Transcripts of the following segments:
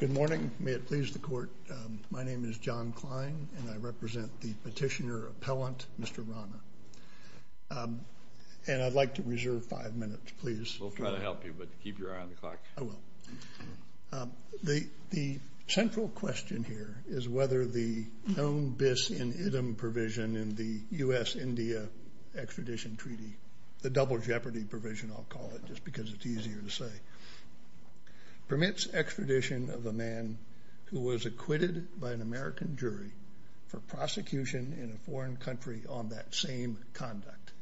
Good morning. May it please the Court, my name is John Kline and I represent the petitioner appellant, Mr. Rana. And I'd like to reserve five minutes, please. We'll try to help you, but keep your eye on the clock. I will. The central question here is whether the known abyss-in-idem provision in the U.S.-India extradition treaty, the double jeopardy provision I'll call it, just because it's easier to say, permits extradition of a man who was acquitted by an American jury for prosecution in a foreign country on that same conduct.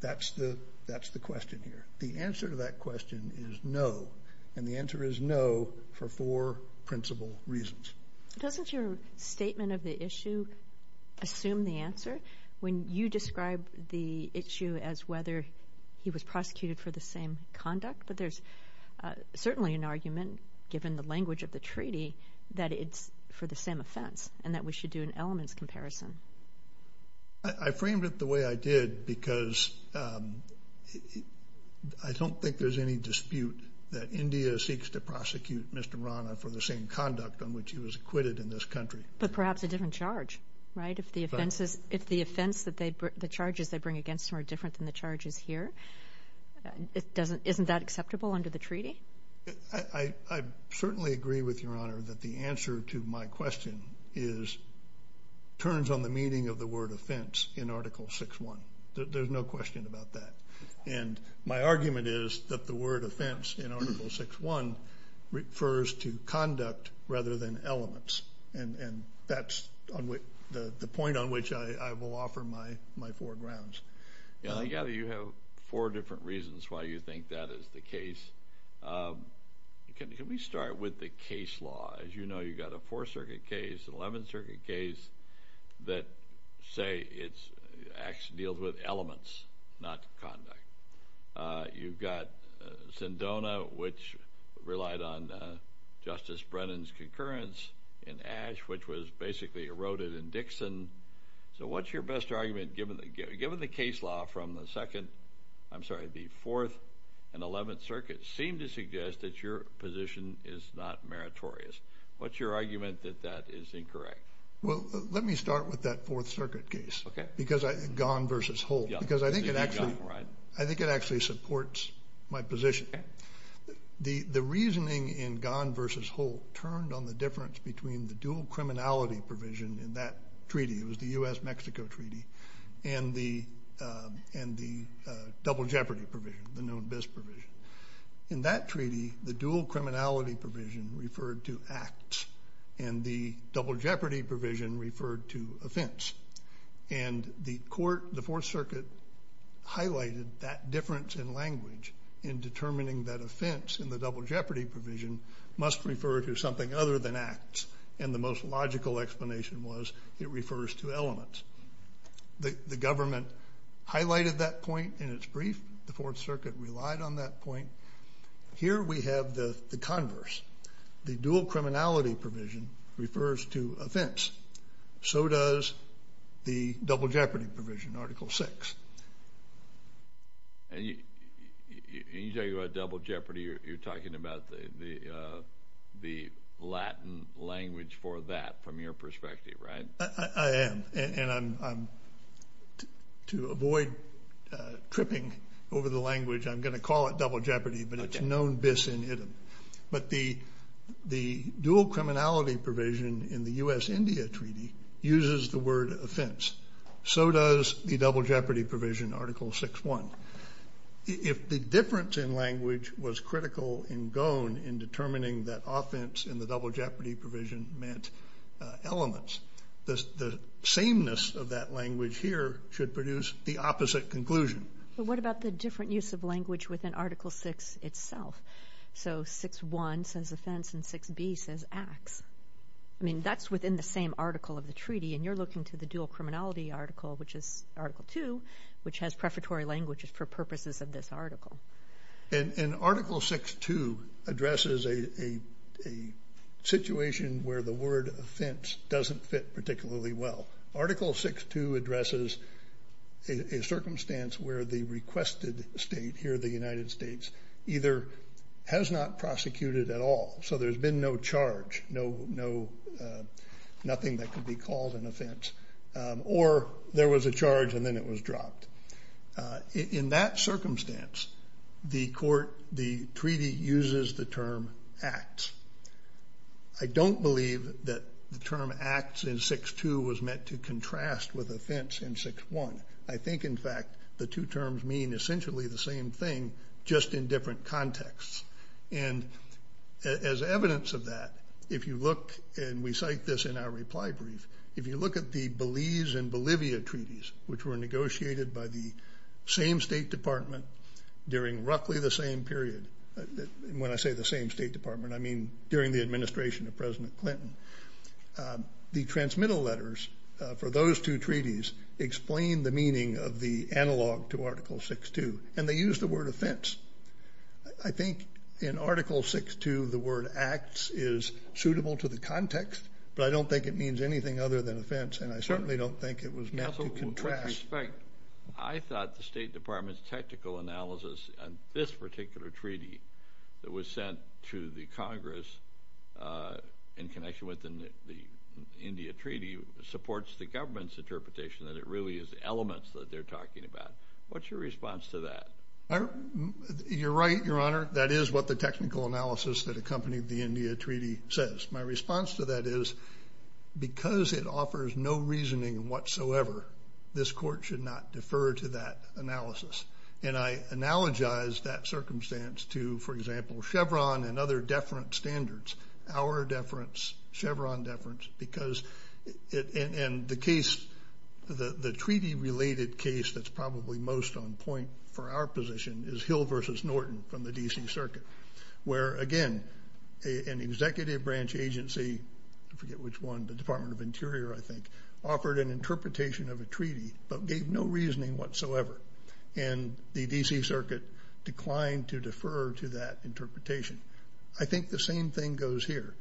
That's the question here. The answer to that question is no, and the answer is no for four reasons. Doesn't your statement of the issue assume the answer when you describe the issue as whether he was prosecuted for the same conduct? But there's certainly an argument, given the language of the treaty, that it's for the same offense and that we should do an elements comparison. I framed it the way I did because I don't think there's any dispute that India seeks to prosecute Mr. Rana for the same conduct on which he was acquitted in this country. But perhaps a different charge, right? If the offenses, if the offense that they, the charges they bring against him are different than the charges here, it doesn't, isn't that acceptable under the treaty? I certainly agree with Your Honor that the answer to my question is, turns on the meaning of the word offense in Article 6.1. There's no question about that. And my argument is that the word offense in Article 6.1 refers to conduct rather than elements. And that's the point on which I will offer my four grounds. And I gather you have four different reasons why you think that is the case. Can we start with the case law? As you know, you've got a Fourth Circuit case, an Eleventh Circuit case, which, say, it's, actually deals with elements, not conduct. You've got Sendona, which relied on Justice Brennan's concurrence, and Ashe, which was basically eroded in Dixon. So what's your best argument, given the case law from the Second, I'm sorry, the Fourth and Eleventh Circuit, seem to suggest that your position is not meritorious? What's your argument that that is incorrect? Well, let me start with that Fourth Circuit case. Okay. Because I, Gahn versus Holt, because I think it actually, I think it actually supports my position. The reasoning in Gahn versus Holt turned on the difference between the dual criminality provision in that treaty, it was the U.S.-Mexico treaty, and the double jeopardy provision, the known bis provision. In that treaty, the dual criminality provision referred to acts, and the double jeopardy provision referred to offense. And the court, the Fourth Circuit, highlighted that difference in language in determining that offense in the double jeopardy provision must refer to something other than acts. And the most logical explanation was, it refers to elements. The government highlighted that point in its brief. The Fourth Circuit relied on that point. Here we have the converse. The dual criminality provision refers to offense. So does the double jeopardy provision, Article VI. And you're talking about double jeopardy, you're talking about the Latin language for that, from your perspective, right? I am, and I'm to avoid tripping over the language, I'm going to call it double jeopardy, but it's known bis in idem. But the dual criminality provision in the U.S.-India treaty uses the word offense. So does the double jeopardy provision, Article VI.1. If the difference in language was critical in Gahn in determining that offense in the double jeopardy provision meant elements, the sameness of that language here should produce the opposite conclusion. But what about the different use of language within Article VI itself? So VI.1 says offense and VI.B says acts. I mean, that's within the same article of the treaty, and you're looking to the dual criminality article, which is Article II, which has prefatory languages for purposes of this article. And Article VI.2 addresses a situation where the word offense doesn't fit particularly well. Article VI.2 addresses a circumstance where the requested state here, the United States, either has not prosecuted at all, so there's been no charge, nothing that could be called an offense, or there was a charge and then was dropped. In that circumstance, the treaty uses the term acts. I don't believe that the term acts in VI.2 was meant to contrast with offense in VI.1. I think, in fact, the two terms mean essentially the same thing, just in different contexts. And as evidence of that, if you look, and we cite this in our reply brief, if you look at the Belize and Bolivia treaties, which were negotiated by the same State Department during roughly the same period, when I say the same State Department, I mean during the administration of President Clinton, the transmittal letters for those two treaties explain the meaning of the analog to Article VI.2, and they use the word offense. I think in Article VI.2, the word acts is suitable to the context, but I don't think it means anything other than offense, and I certainly don't think it was meant to contrast. With respect, I thought the State Department's technical analysis on this particular treaty that was sent to the Congress in connection with the India Treaty supports the government's interpretation that it really is elements that they're talking about. What's your response to that? You're right, Your Honor. That is what the technical analysis that accompanied the India Treaty is. And I analogize that circumstance to, for example, Chevron and other deference standards, our deference, Chevron deference, because the treaty-related case that's probably most on point for our position is Hill v. Norton from the D.C. Circuit, where, again, an executive branch agency, I forget which one, the Department of Interior, I think, offered an interpretation of a treaty but gave no reasoning whatsoever, and the D.C. Circuit declined to defer to that interpretation. I think the same thing goes here.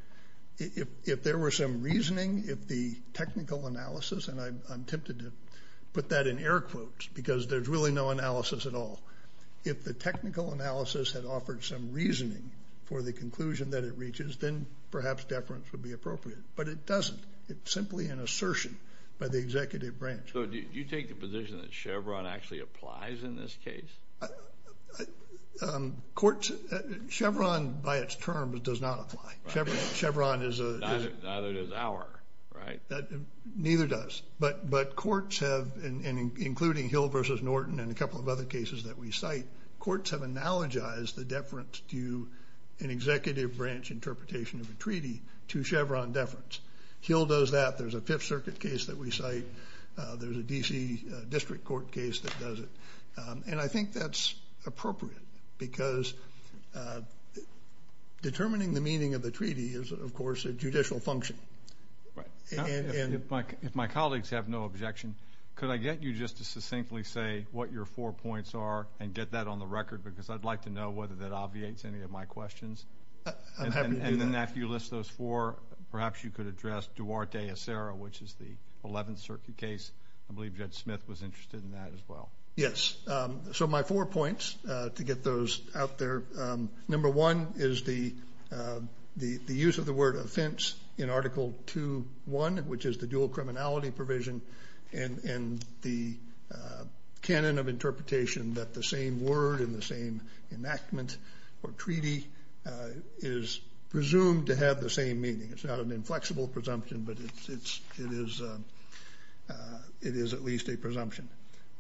If there were some reasoning, if the technical analysis, and I'm tempted to put that in air quotes because there's really no analysis at all, if the technical analysis had offered some reasoning for the conclusion that it reaches, then perhaps deference would be appropriate. But it doesn't. It's simply an assertion by the executive branch. So do you take the position that Chevron actually applies in this case? Chevron, by its terms, does not apply. Chevron is a... Neither does our, right? Neither does. But courts have, including Hill v. Norton and a couple of other cases that we cite, courts have analogized the deference to an executive branch interpretation of a treaty to Chevron deference. Hill does that. There's a Fifth Circuit case that we cite. There's a D.C. District Court case that does it. And I think that's appropriate because determining the meaning of the treaty is, of course, a judicial function. Right. And if my colleagues have no objection, could I get you just to succinctly say what your four points are and get that on the record because I'd like to know whether that obviates any of my four. Perhaps you could address Duarte-Acero, which is the Eleventh Circuit case. I believe Judge Smith was interested in that as well. Yes. So my four points to get those out there. Number one is the use of the word offense in Article 2.1, which is the dual criminality provision and the canon of interpretation that the same word and the same enactment or treaty is presumed to have the same meaning. It's not an inflexible presumption, but it is at least a presumption.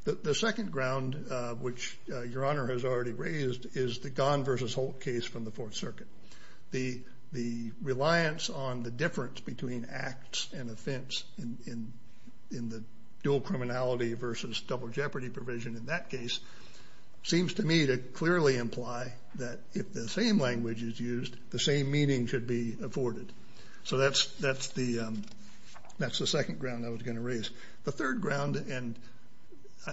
The second ground, which Your Honor has already raised, is the Gahn versus Holt case from the Fourth Circuit. The reliance on the difference between acts and offense in the dual criminality versus double jeopardy provision in that case seems to me to clearly imply that if the same language is used, the same meaning should be afforded. So that's the second ground I was going to raise. The third ground, and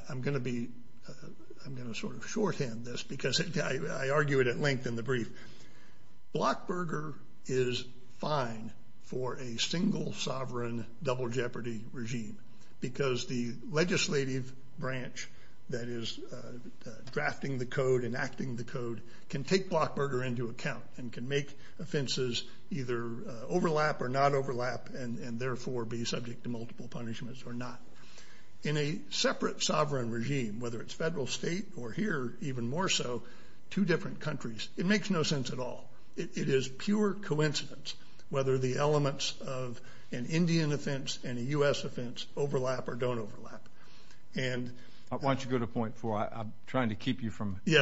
I'm going to sort of shorthand this because I argue it at length in the brief. Blockberger is fine for a single sovereign double jeopardy regime because the legislative branch that is drafting the code, enacting the code, can take Blockberger into account and can make offenses either overlap or not overlap and therefore be subject to multiple punishments or not. In a separate sovereign regime, whether it's federal, state, or here even more so, two different countries, it makes no sense at all. It is pure coincidence whether the elements of an Indian offense and a U.S. offense overlap or don't overlap. Why don't you go to point four? I'm trying to keep you from one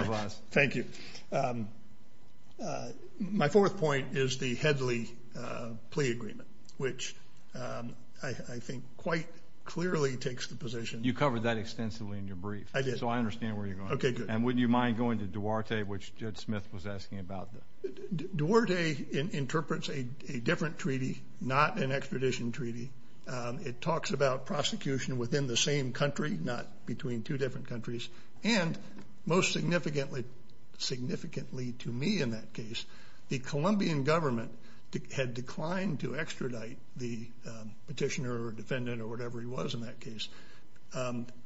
of us. Thank you. My fourth point is the Headley plea agreement, which I think quite clearly takes the position... You covered that extensively in your brief. I did. So I understand and wouldn't you mind going to Duarte, which Judge Smith was asking about. Duarte interprets a different treaty, not an extradition treaty. It talks about prosecution within the same country, not between two different countries, and most significantly to me in that case, the Colombian government had declined to extradite the petitioner or defendant or whatever he was in that case,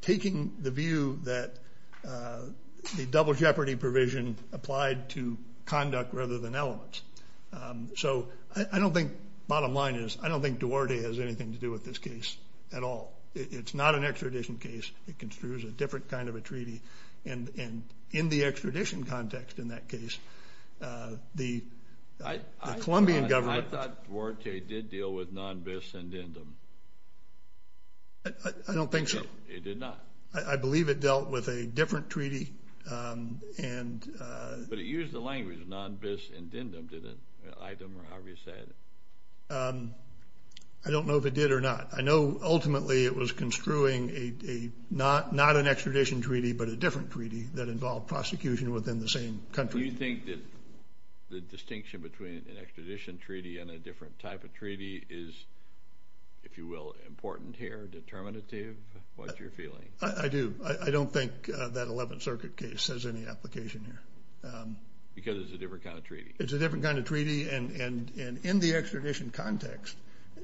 taking the view that the double jeopardy provision applied to conduct rather than elements. So I don't think, bottom line is, I don't think Duarte has anything to do with this case at all. It's not an extradition case. It construes a different kind of a treaty and in the extradition context in that case, the Colombian government... Duarte did deal with non-bis and dindum. I don't think so. It did not. I believe it dealt with a different treaty and... But it used the language non-bis and dindum, didn't it? Item or however you say it. I don't know if it did or not. I know ultimately it was construing not an extradition treaty, but a different treaty that involved prosecution within the same country. Do you think that the distinction between an extradition treaty and a different type of treaty is, if you will, important here, determinative? What's your feeling? I do. I don't think that 11th Circuit case has any application here. Because it's a different kind of treaty. It's a different kind of treaty and in the extradition context,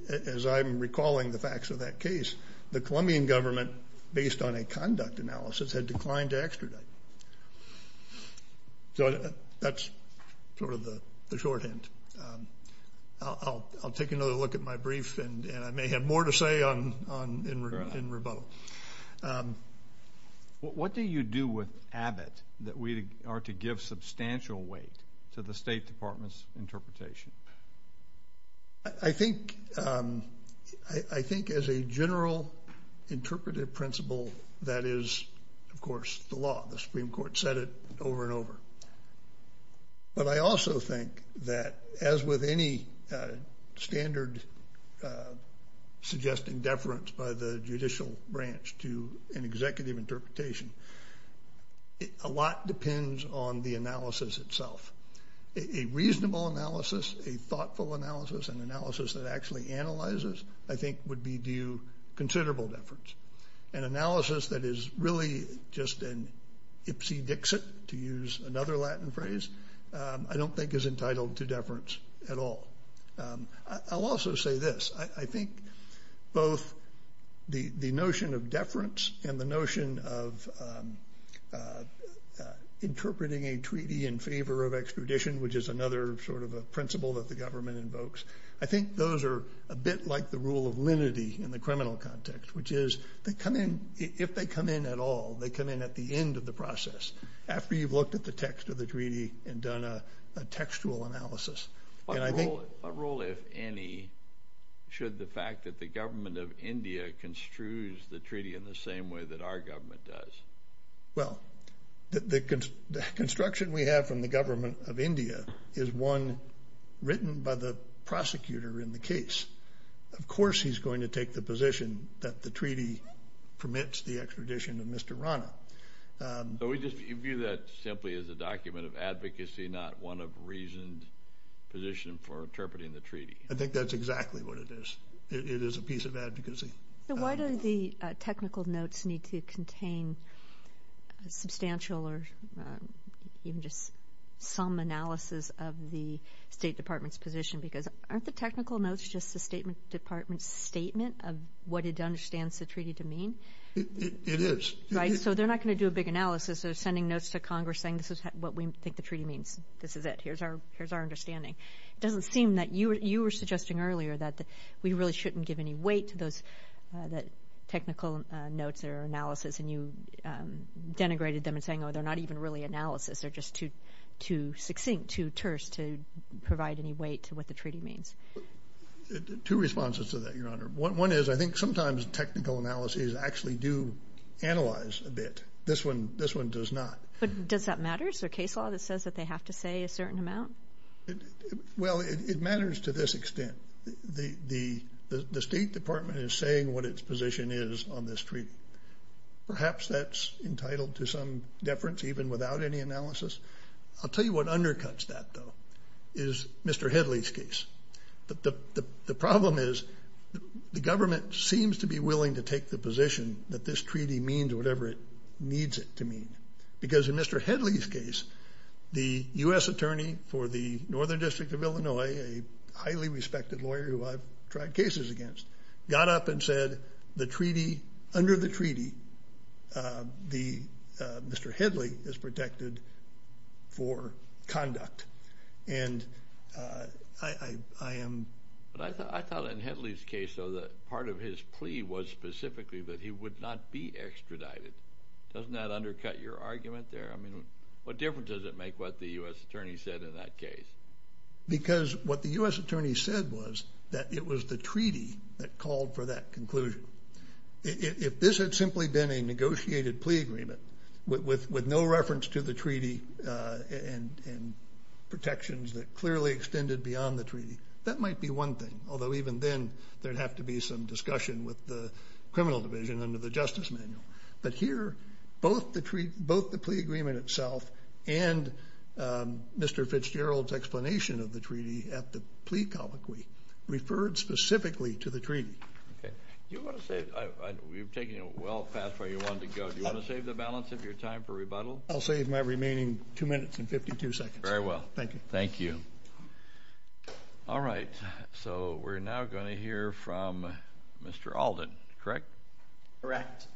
as I'm recalling the facts of that case, the Colombian government, based on a conduct analysis, had declined to That's sort of the shorthand. I'll take another look at my brief and I may have more to say in rebuttal. What do you do with Abbott that we are to give substantial weight to the State Department's interpretation? I think as a general interpretive principle, that is, of course, the law. The But I also think that, as with any standard suggesting deference by the judicial branch to an executive interpretation, a lot depends on the analysis itself. A reasonable analysis, a thoughtful analysis, an analysis that actually analyzes, I think would be due considerable deference. An analysis that is really just an ipsy-dixit, to use another Latin phrase, I don't think is entitled to deference at all. I'll also say this. I think both the notion of deference and the notion of interpreting a treaty in favor of extradition, which is another sort of a principle that the government invokes, I think those are a bit like the rule of linity in the They come in, if they come in at all, they come in at the end of the process, after you've looked at the text of the treaty and done a textual analysis. What role, if any, should the fact that the government of India construes the treaty in the same way that our government does? Well, the construction we have from the government of India is one written by the prosecutor in the case. Of course he's going to take the position that the treaty permits the extradition of Mr. Rana. So we just view that simply as a document of advocacy, not one of reasoned position for interpreting the treaty? I think that's exactly what it is. It is a piece of advocacy. So why do the technical notes need to contain substantial or even just some analysis of the State Department's position? Because aren't the the treaty to mean? It is. Right, so they're not going to do a big analysis. They're sending notes to Congress saying this is what we think the treaty means. This is it. Here's our understanding. It doesn't seem that you were suggesting earlier that we really shouldn't give any weight to those technical notes or analysis and you denigrated them and saying, oh, they're not even really analysis. They're just too succinct, too terse to provide any weight to what the treaty means. Two responses to that, Your Honor. One is I think sometimes technical analyses actually do analyze a bit. This one does not. But does that matter? Is there a case law that says that they have to say a certain amount? Well, it matters to this extent. The State Department is saying what its position is on this treaty. Perhaps that's entitled to some deference even without any analysis. I'll tell you what undercuts that, though, is Mr. Hedley's case. The problem is the government seems to be willing to take the position that this treaty means whatever it needs it to mean. Because in Mr. Hedley's case, the U.S. attorney for the Northern District of Illinois, a highly respected lawyer who I've tried cases against, got up and said the treaty, under the treaty, Mr. Hedley is protected for conduct. And I am. But I thought in Hedley's case, though, that part of his plea was specifically that he would not be extradited. Doesn't that undercut your argument there? I mean, what difference does it make what the U.S. attorney said in that case? Because what the U.S. attorney said was that it was the treaty that called for that conclusion. If this had simply been a negotiated plea agreement with no reference to the treaty and protections that clearly extended beyond the treaty, that might be one thing. Although even then, there'd have to be some discussion with the criminal division under the Justice Manual. But here, both the plea agreement itself and Mr. Fitzgerald's explanation of the treaty at the plea colloquy referred specifically to the treaty. Okay. You want to say, you've taken it well past where you wanted to go. Do you want to save the balance of your time for rebuttal? I'll save my remaining two minutes and 52 seconds. Very well. Thank you. Thank you. All right. So we're now going to hear from Mr. Alden, correct? Correct.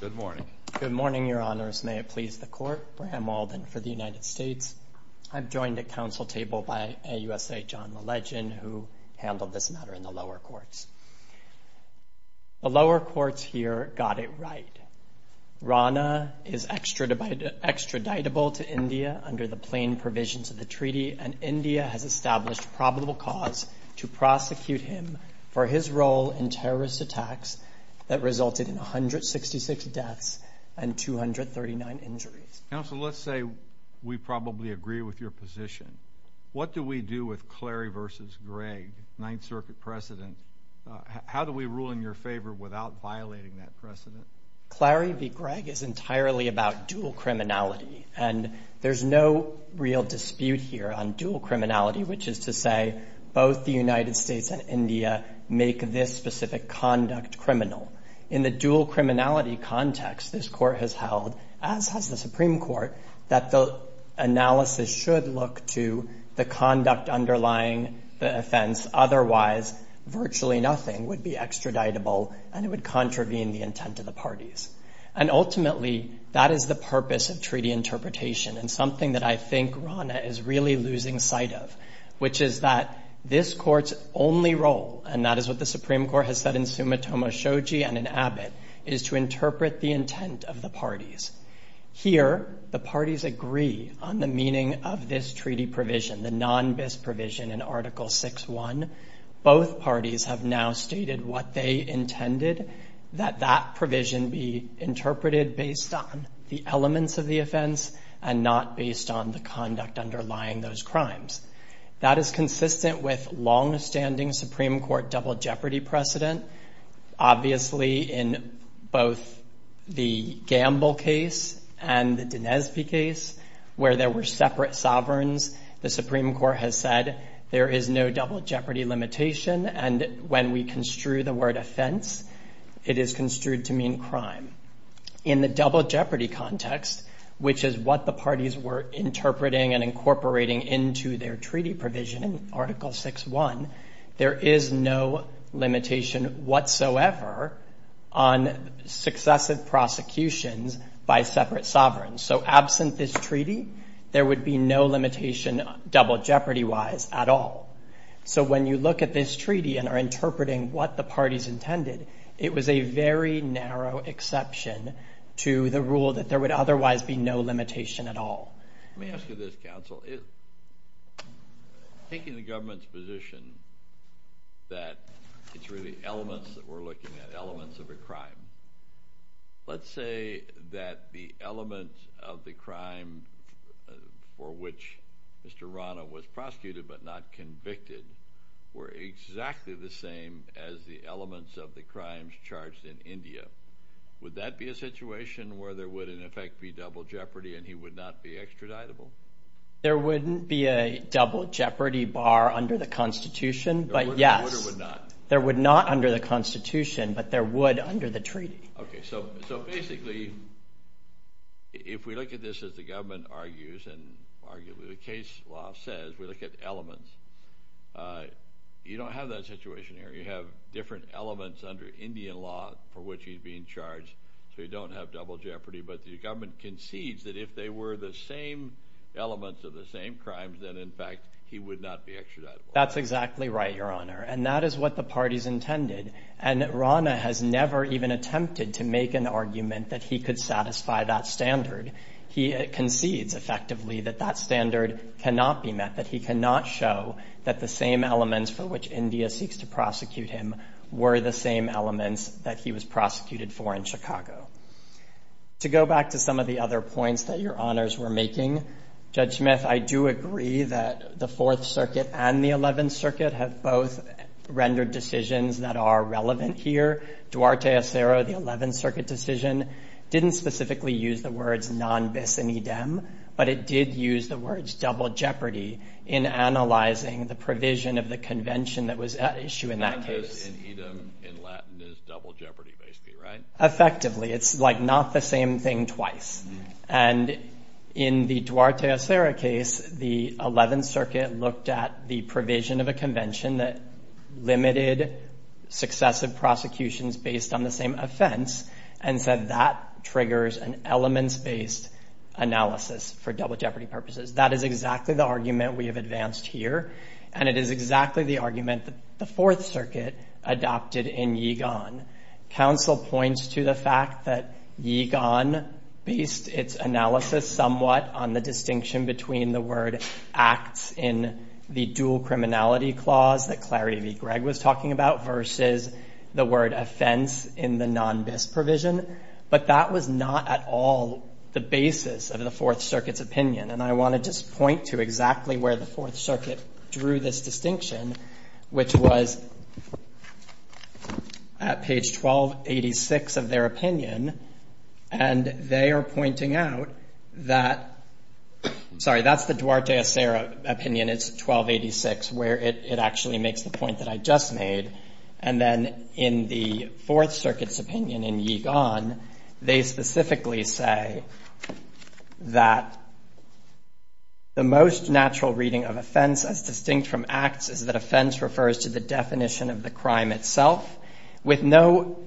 Good morning. Good morning, Your Honors. May it please the Court, I'm Alden for the United States. I'm joined at council table by AUSA John LeLegend, who handled this matter in the lower courts. The lower courts here got it right. Rana is extraditable to India under the plain provisions of the treaty, and India has established probable cause to prosecute him for his role in terrorist attacks that resulted in 166 deaths and 239 murders. So let's say we probably agree with your position. What do we do with Clary versus Greg, Ninth Circuit President? How do we rule in your favor without violating that precedent? Clary v. Greg is entirely about dual criminality, and there's no real dispute here on dual criminality, which is to say both the United States and India make this specific conduct criminal. In the dual criminality context, this Court has held, as has the Supreme Court, that the analysis should look to the conduct underlying the offense. Otherwise, virtually nothing would be extraditable, and it would contravene the intent of the parties. And ultimately, that is the purpose of treaty interpretation, and something that I think Rana is really losing sight of, which is that this Court's only role, and that is what the Shoji and an Abbott, is to interpret the intent of the parties. Here, the parties agree on the meaning of this treaty provision, the non-bis provision in Article 6.1. Both parties have now stated what they intended, that that provision be interpreted based on the elements of the offense and not based on the conduct underlying those crimes. That is consistent with long-standing Supreme Court double jeopardy precedent. Obviously, in both the Gamble case and the Dinesby case, where there were separate sovereigns, the Supreme Court has said there is no double jeopardy limitation, and when we construe the word offense, it is construed to mean crime. In the double jeopardy context, which is what the parties were interpreting and incorporating into their treaty provision in Article 6.1, there is no limitation whatsoever on successive prosecutions by separate sovereigns. So, absent this treaty, there would be no limitation double jeopardy-wise at all. So, when you look at this treaty and are interpreting what the parties intended, it was a very narrow exception to the rule that there would otherwise be no limitation at all. Let me ask you this, counsel. Taking the government's position that it's really elements that we're looking at, elements of a crime, let's say that the elements of the crime for which Mr. Rana was prosecuted but not convicted were exactly the same as the elements of the crimes charged in India, would that be a situation where there would, in effect, be double jeopardy and he would not be extradited? There wouldn't be a double jeopardy bar under the Constitution, but yes. There would not under the Constitution, but there would under the treaty. Okay, so basically, if we look at this as the government argues and arguably the case law says, we look at elements, you don't have that situation here. You have different elements under Indian law for which he's being charged, so you don't have double jeopardy, but the government concedes that if they were the same elements of the same crimes, then in fact, he would not be extradited. That's exactly right, Your Honor, and that is what the parties intended, and Rana has never even attempted to make an argument that he could satisfy that standard. He concedes effectively that that standard cannot be met, that he cannot show that the same elements for which India seeks to prosecute him were the same elements that he was prosecuted for in Chicago. To go back to some of the other points that Your Honors were making, Judge Smith, I do agree that the Fourth Circuit and the Eleventh Circuit have both rendered decisions that are relevant here. Duarte Acero, the Eleventh Circuit decision, didn't specifically use the words non bis in idem, but it did use the words double jeopardy in analyzing the provision of the convention that was at issue in that case. Effectively, it's like not the same thing twice, and in the Duarte Acero case, the Eleventh Circuit looked at the provision of a convention that limited successive prosecutions based on the same offense and said that triggers an elements-based analysis for double jeopardy purposes. That is exactly the argument that the Fourth Circuit adopted in Yigon. Counsel points to the fact that Yigon based its analysis somewhat on the distinction between the word acts in the dual criminality clause that Clarity v. Gregg was talking about versus the word offense in the non bis provision, but that was not at all the basis of the Fourth Circuit drew this distinction, which was at page 1286 of their opinion, and they are pointing out that, sorry, that's the Duarte Acero opinion, it's 1286, where it actually makes the point that I just made, and then in the Fourth Circuit's opinion in Yigon, they specifically say that the most natural reading of offense as distinct from acts is that offense refers to the definition of the crime itself, with no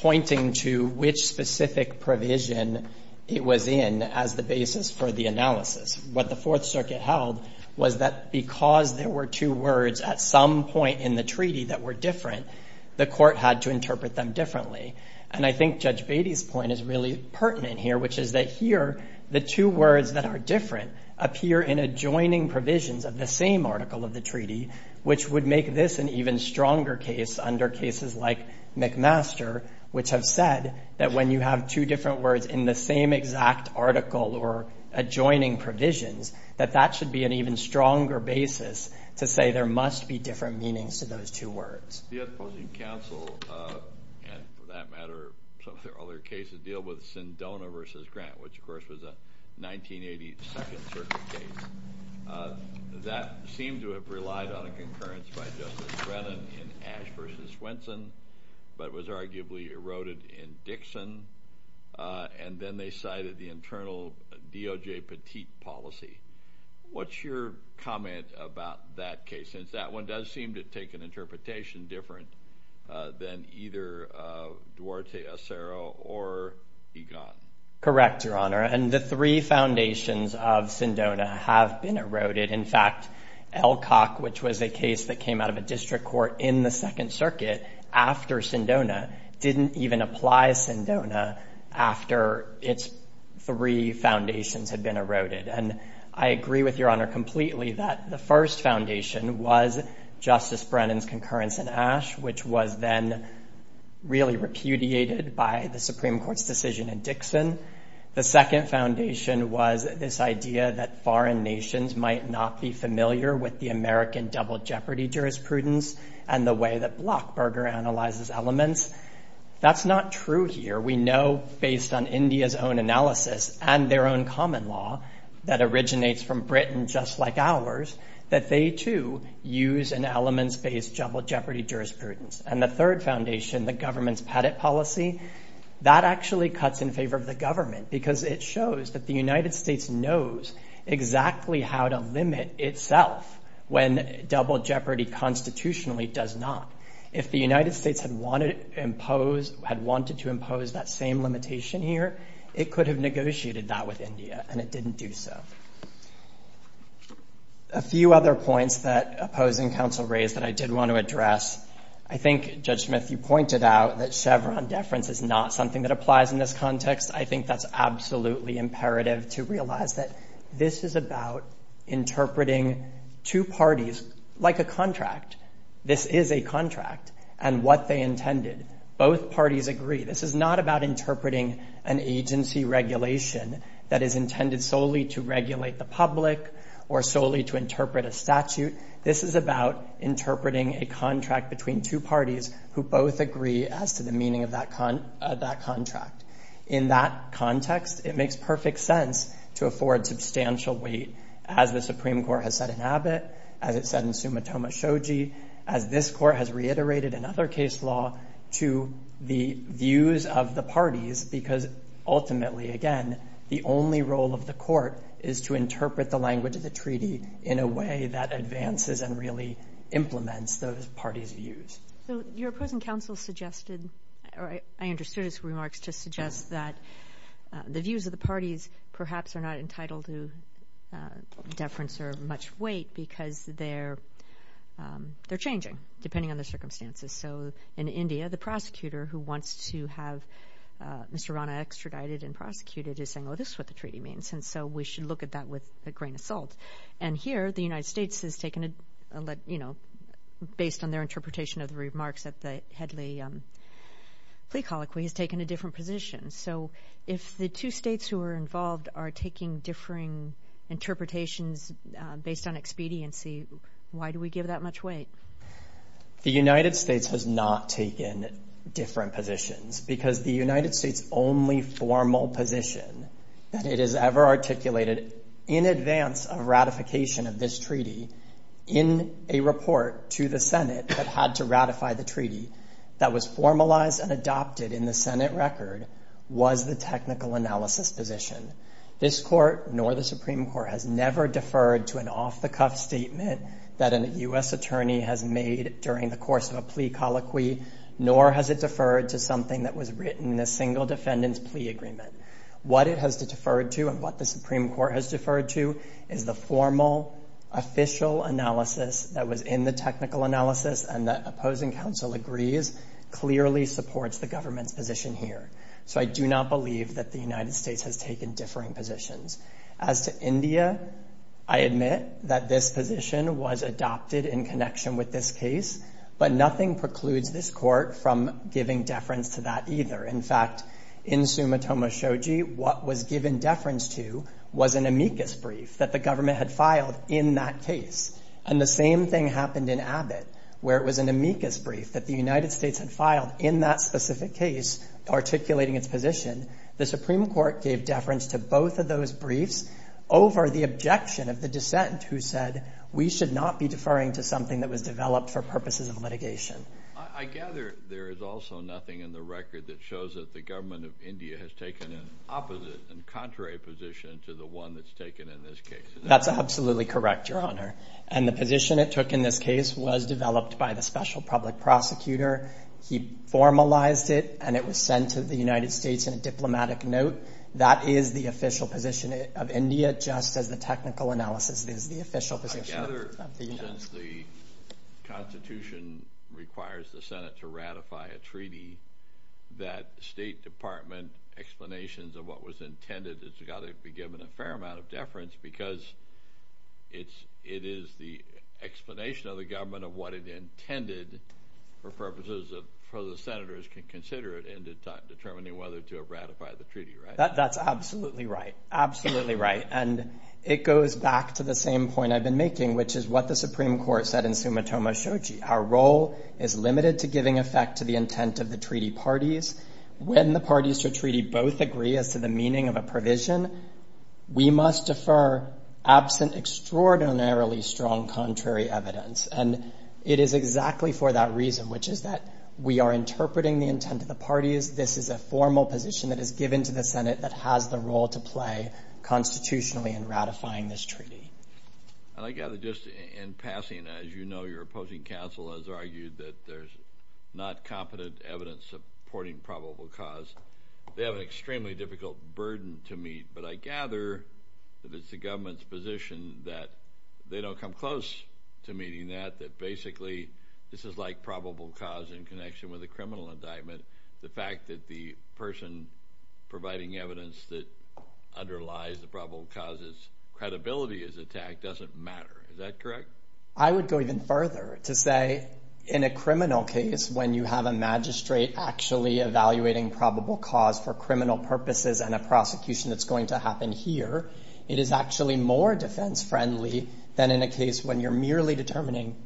pointing to which specific provision it was in as the basis for the analysis. What the Fourth Circuit held was that because there were two words at some point in the treaty that were different, the court had to interpret them differently, and I think Judge Beatty's point is really pertinent here, which is that here, the two words that are different appear in adjoining provisions of the same article of the treaty, which would make this an even stronger case under cases like McMaster, which have said that when you have two different words in the same exact article or adjoining provisions, that that should be an even stronger basis to say there must be different meanings to those two words. The opposing counsel, and for that matter, some of their other cases deal with Sindona v. Grant, which of course was a 1982 Second Circuit case. That seemed to have relied on a concurrence by Justice Brennan in Ashe v. Swenson, but was arguably eroded in Dixon, and then they cited the internal D.O.J. Petit policy. What's your comment about that case, since that one does seem to take an interpretation different than either Duarte, Acero, or Egan? Correct, Your Honor, and the three foundations of Sindona have been eroded. In fact, Elcock, which was a case that came out of a district court in the Second Circuit after Sindona, didn't even apply Sindona after its three foundations had been eroded. And I agree with Your Honor completely that the first foundation was Justice Brennan's concurrence in Ashe, which was then really repudiated by the Supreme Court's decision in Dixon. The second foundation was this idea that foreign nations might not be familiar with the American double jeopardy jurisprudence and the way that Blockburger analyzes elements. That's not true here. We know, based on India's own analysis and their own common law that originates from Britain, just like ours, that they too use an elements-based double jeopardy jurisprudence. And the third foundation, the government's Petit policy, that actually cuts in favor of the United States, it shows that the United States knows exactly how to limit itself when double jeopardy constitutionally does not. If the United States had wanted to impose that same limitation here, it could have negotiated that with India, and it didn't do so. A few other points that opposing counsel raised that I did want to address. I think, Judge Smith, you pointed out that Chevron deference is not something that is absolutely imperative to realize that this is about interpreting two parties like a contract. This is a contract and what they intended. Both parties agree. This is not about interpreting an agency regulation that is intended solely to regulate the public or solely to interpret a statute. This is about interpreting a statute that makes perfect sense to afford substantial weight, as the Supreme Court has said in Abbott, as it said in Sumitomo Shoji, as this Court has reiterated in other case law, to the views of the parties, because ultimately, again, the only role of the Court is to interpret the language of the treaty in a way that advances and really implements those parties' views. So your opposing counsel suggested, or I understood his remarks, to suggest that the views of the parties perhaps are not entitled to deference or much weight because they're changing, depending on the circumstances. So in India, the prosecutor who wants to have Mr. Rana extradited and prosecuted is saying, well, this is what the treaty means, and so we should look at that with a grain of salt. And here, the United States has taken a, you know, based on their interpretation of the remarks at the Headley plea colloquy, has taken a different position. So if the two states who are involved are taking differing interpretations based on expediency, why do we give that much weight? The United States has not taken different positions, because the United States' only formal position that it has ever articulated in advance of ratification of this treaty, in a report to the Senate that had to ratify the treaty, that was formalized and adopted in the Senate record, was the technical analysis position. This court, nor the Supreme Court, has never deferred to an off-the-cuff statement that a U.S. attorney has made during the course of a plea colloquy, nor has it deferred to something that was written in a single defendant's plea agreement. What it has deferred to and what the Supreme Court has deferred to is the formal, official analysis that was in the technical analysis and the opposing counsel agrees, clearly supports the government's position here. So I do not believe that the United States has taken differing positions. As to India, I admit that this position was adopted in connection with this case, but nothing precludes this court from giving deference to that either. In fact, in Sumitomo Shoji, what was given deference to was an amicus brief that the government had filed in that case. And the same thing happened in Abbott, where it was an amicus brief that the United States had filed in that specific case, articulating its position. The Supreme Court gave deference to both of those briefs over the objection of the dissent who said, we should not be deferring to something that was developed for purposes of litigation. I gather there is also nothing in the record that shows that the government of India has taken an opposite and contrary position to the one that's taken in this case. That's absolutely correct, Your Honor. And the position it took in this case was developed by the special public prosecutor. He formalized it, and it was sent to the United States in a diplomatic note. That is the official position of India, just as the technical analysis is the official position of the United States. I gather, since the Constitution requires the Senate to ratify a treaty, that the State Department explanations of what was intended has got to be given a fair amount of deference, because it is the explanation of the government of what it intended, for purposes that the Senators can consider it in determining whether to ratify the treaty, right? That's absolutely right. Absolutely right. And it goes back to the same point I've been making, which is what the Supreme Court said in Summa Toma Shoji. Our role is limited to giving effect to the intent of the treaty parties. When the parties to a treaty both agree as to the meaning of a provision, we must defer absent extraordinarily strong contrary evidence. And it is exactly for that reason, which is that we are interpreting the intent of the parties. This is a formal position that is given to the Senate that has the role to play constitutionally in ratifying this treaty. And I gather just in passing, as you know, your opposing counsel has argued that there's not competent evidence supporting probable cause. They have an extremely difficult burden to meet. But I gather that it's the government's position that they don't come close to meeting that, that basically this is like probable cause in connection with a criminal indictment. The fact that the person providing evidence that underlies the probable causes credibility is attacked doesn't matter. Is that correct? I would go even further to say in a criminal case, when you have a magistrate actually evaluating probable cause for criminal purposes and a prosecution that's going to happen here, it is actually more defense friendly than in a case when you're merely determining,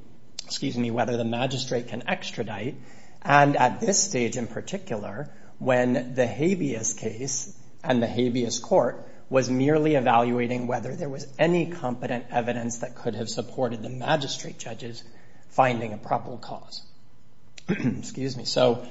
excuse me, whether the magistrate can extradite. And at this stage in particular, when the habeas case and the habeas court was merely evaluating whether there was any competent evidence that could have supported the magistrate judges finding a probable cause. Excuse me. So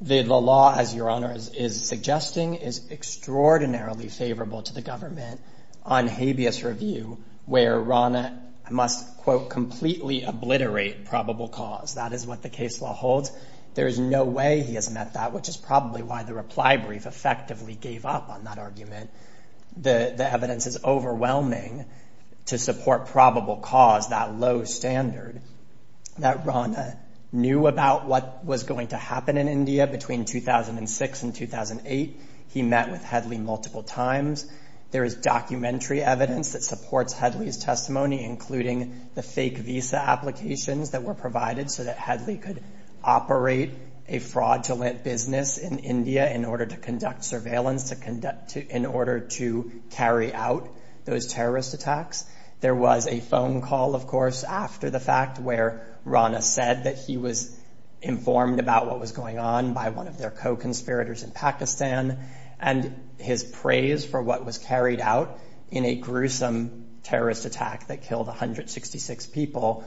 the law, as your honor is suggesting, is extraordinarily favorable to the government on habeas review, where Rana must, quote, completely obliterate probable cause. That is what the case law holds. There is no way he has met that, which is probably why the reply brief effectively gave up on that argument. The evidence is overwhelming to support probable cause, that low standard. That Rana knew about what was going to happen in India between 2006 and 2008. He met with Headley multiple times. There is documentary evidence that supports Headley's testimony, including the fake visa applications that were provided so that Headley could operate a fraudulent business in India in order to conduct surveillance, in order to carry out those terrorist attacks. There was a phone call, of course, after the fact, where Rana said that he was informed about what was going on by one of their co-conspirators in Pakistan, and his praise for what was carried out in a gruesome terrorist attack that killed 166 people,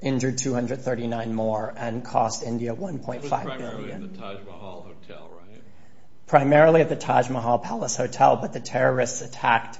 injured 239 more, and cost India $1.5 billion. It was primarily at the Taj Mahal Hotel, right? Primarily at the Taj Mahal Palace Hotel, but the terrorists attacked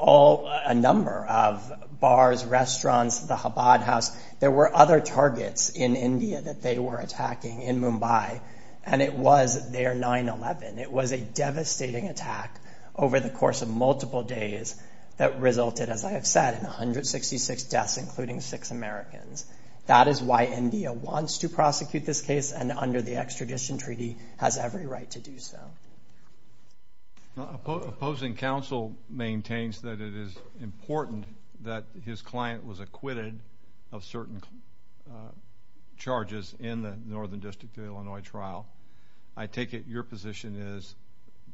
a number of bars, restaurants, the Chabad House. There were other targets in India that they were attacking in Mumbai, and it was their 9-11. It was a devastating attack over the course of multiple days that resulted, as I have said, in 166 deaths, including six Americans. That is why India wants to prosecute this case and, under the extradition treaty, has every right to do so. Opposing counsel maintains that it is important that his client was acquitted of certain charges in the Northern District of Illinois trial. I take it your position is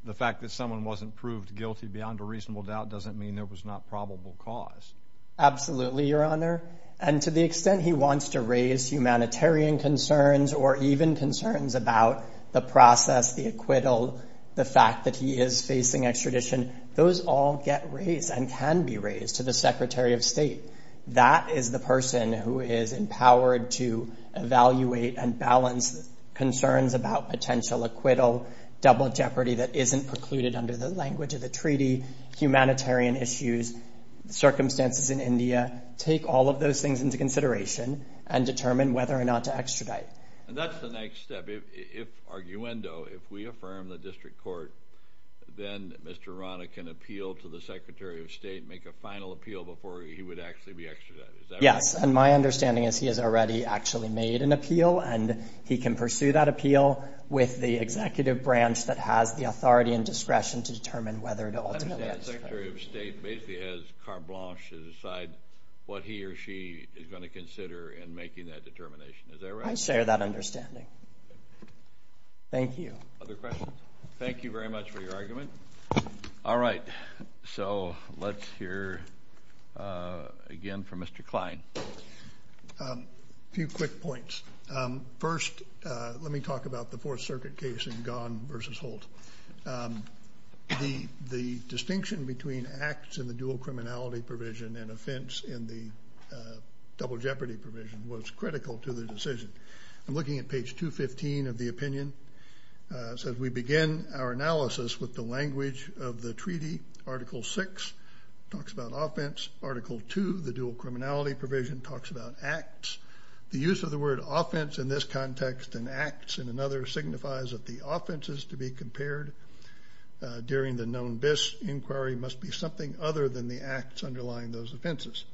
the fact that someone wasn't proved guilty beyond a reasonable doubt doesn't mean there was not probable cause. Absolutely, Your Honor, and to the extent he wants to raise humanitarian concerns or even concerns about the process, the acquittal, the fact that he is facing extradition, those all get raised and can be raised to the Secretary of State. That is the person who is empowered to evaluate and balance concerns about potential acquittal, double jeopardy that isn't precluded under the language of the treaty, humanitarian issues, circumstances in India. Take all of those things into consideration and determine whether or not to extradite. And that's the next step. If, arguendo, if we affirm the district court, then Mr. Rana can appeal to the Secretary of State, make a final appeal before he would actually be extradited. Yes, and my understanding is he has already actually made an appeal, and he can pursue that appeal with the executive branch that has the authority and discretion to determine whether to ultimately extradite. So the Secretary of State basically has carte blanche to decide what he or she is going to consider in making that determination. Is that right? I share that understanding. Thank you. Other questions? Thank you very much for your argument. All right, so let's hear again from Mr. Kline. A few quick points. The distinction between acts in the dual criminality provision and offense in the double jeopardy provision was critical to the decision. I'm looking at page 215 of the opinion. So as we begin our analysis with the language of the treaty, Article VI talks about offense. Article II, the dual criminality provision, talks about acts. The use of the word offense in this context and acts in another signifies that the offenses to be compared during the known BIS inquiry must be something other than the acts underlying those offenses.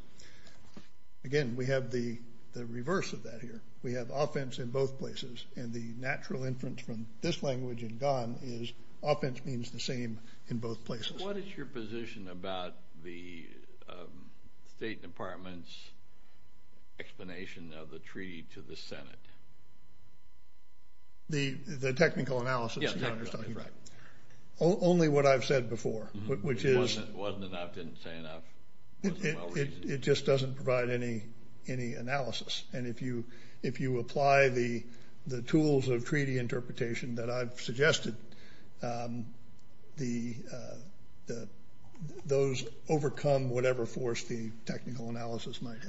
Again, we have the reverse of that here. We have offense in both places, and the natural inference from this language in Ghan is offense means the same in both places. What is your position about the State Department's explanation of the treaty to the Senate? The technical analysis you're talking about? Yes, technical, that's right. Only what I've said before, which is? Wasn't enough, didn't say enough. It just doesn't provide any analysis. And if you apply the tools of treaty interpretation that I've suggested, those overcome whatever force the technical analysis might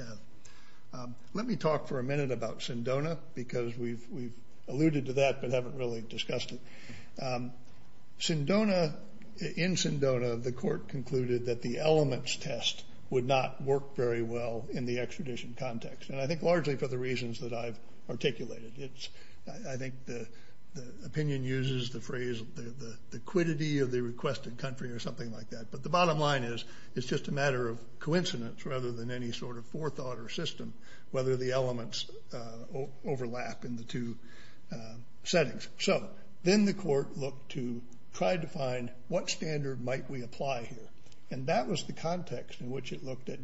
have. Let me talk for a minute about Sindona because we've alluded to that but haven't really discussed it. In Sindona, the court concluded that the elements test would not work very well in the extradition context. And I think largely for the reasons that I've articulated. I think the opinion uses the phrase the quiddity of the requested country or something like that. But the bottom line is it's just a matter of coincidence rather than any sort of forethought or system whether the elements overlap in the two settings. So then the court looked to try to find what standard might we apply here. And that was the context in which it looked at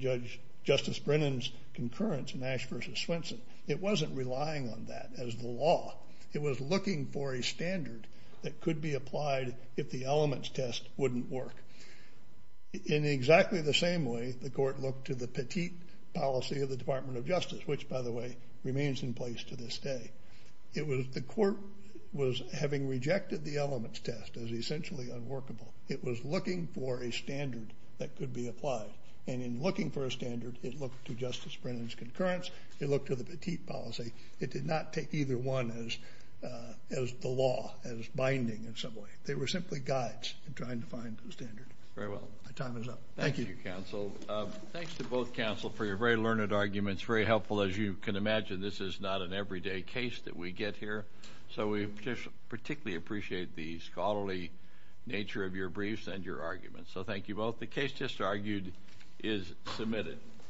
Justice Brennan's concurrence in Ash v. Swenson. It wasn't relying on that as the law. It was looking for a standard that could be applied if the elements test wouldn't work. In exactly the same way, the court looked to the petite policy of the Department of Justice, which, by the way, remains in place to this day. The court was having rejected the elements test as essentially unworkable. It was looking for a standard that could be applied. And in looking for a standard, it looked to Justice Brennan's concurrence. It looked to the petite policy. It did not take either one as the law, as binding in some way. They were simply guides in trying to find the standard. Very well. My time is up. Thank you. Thank you, counsel. Thanks to both counsel for your very learned arguments, very helpful. As you can imagine, this is not an everyday case that we get here. So we particularly appreciate the scholarly nature of your briefs and your arguments. So thank you both. The case just argued is submitted.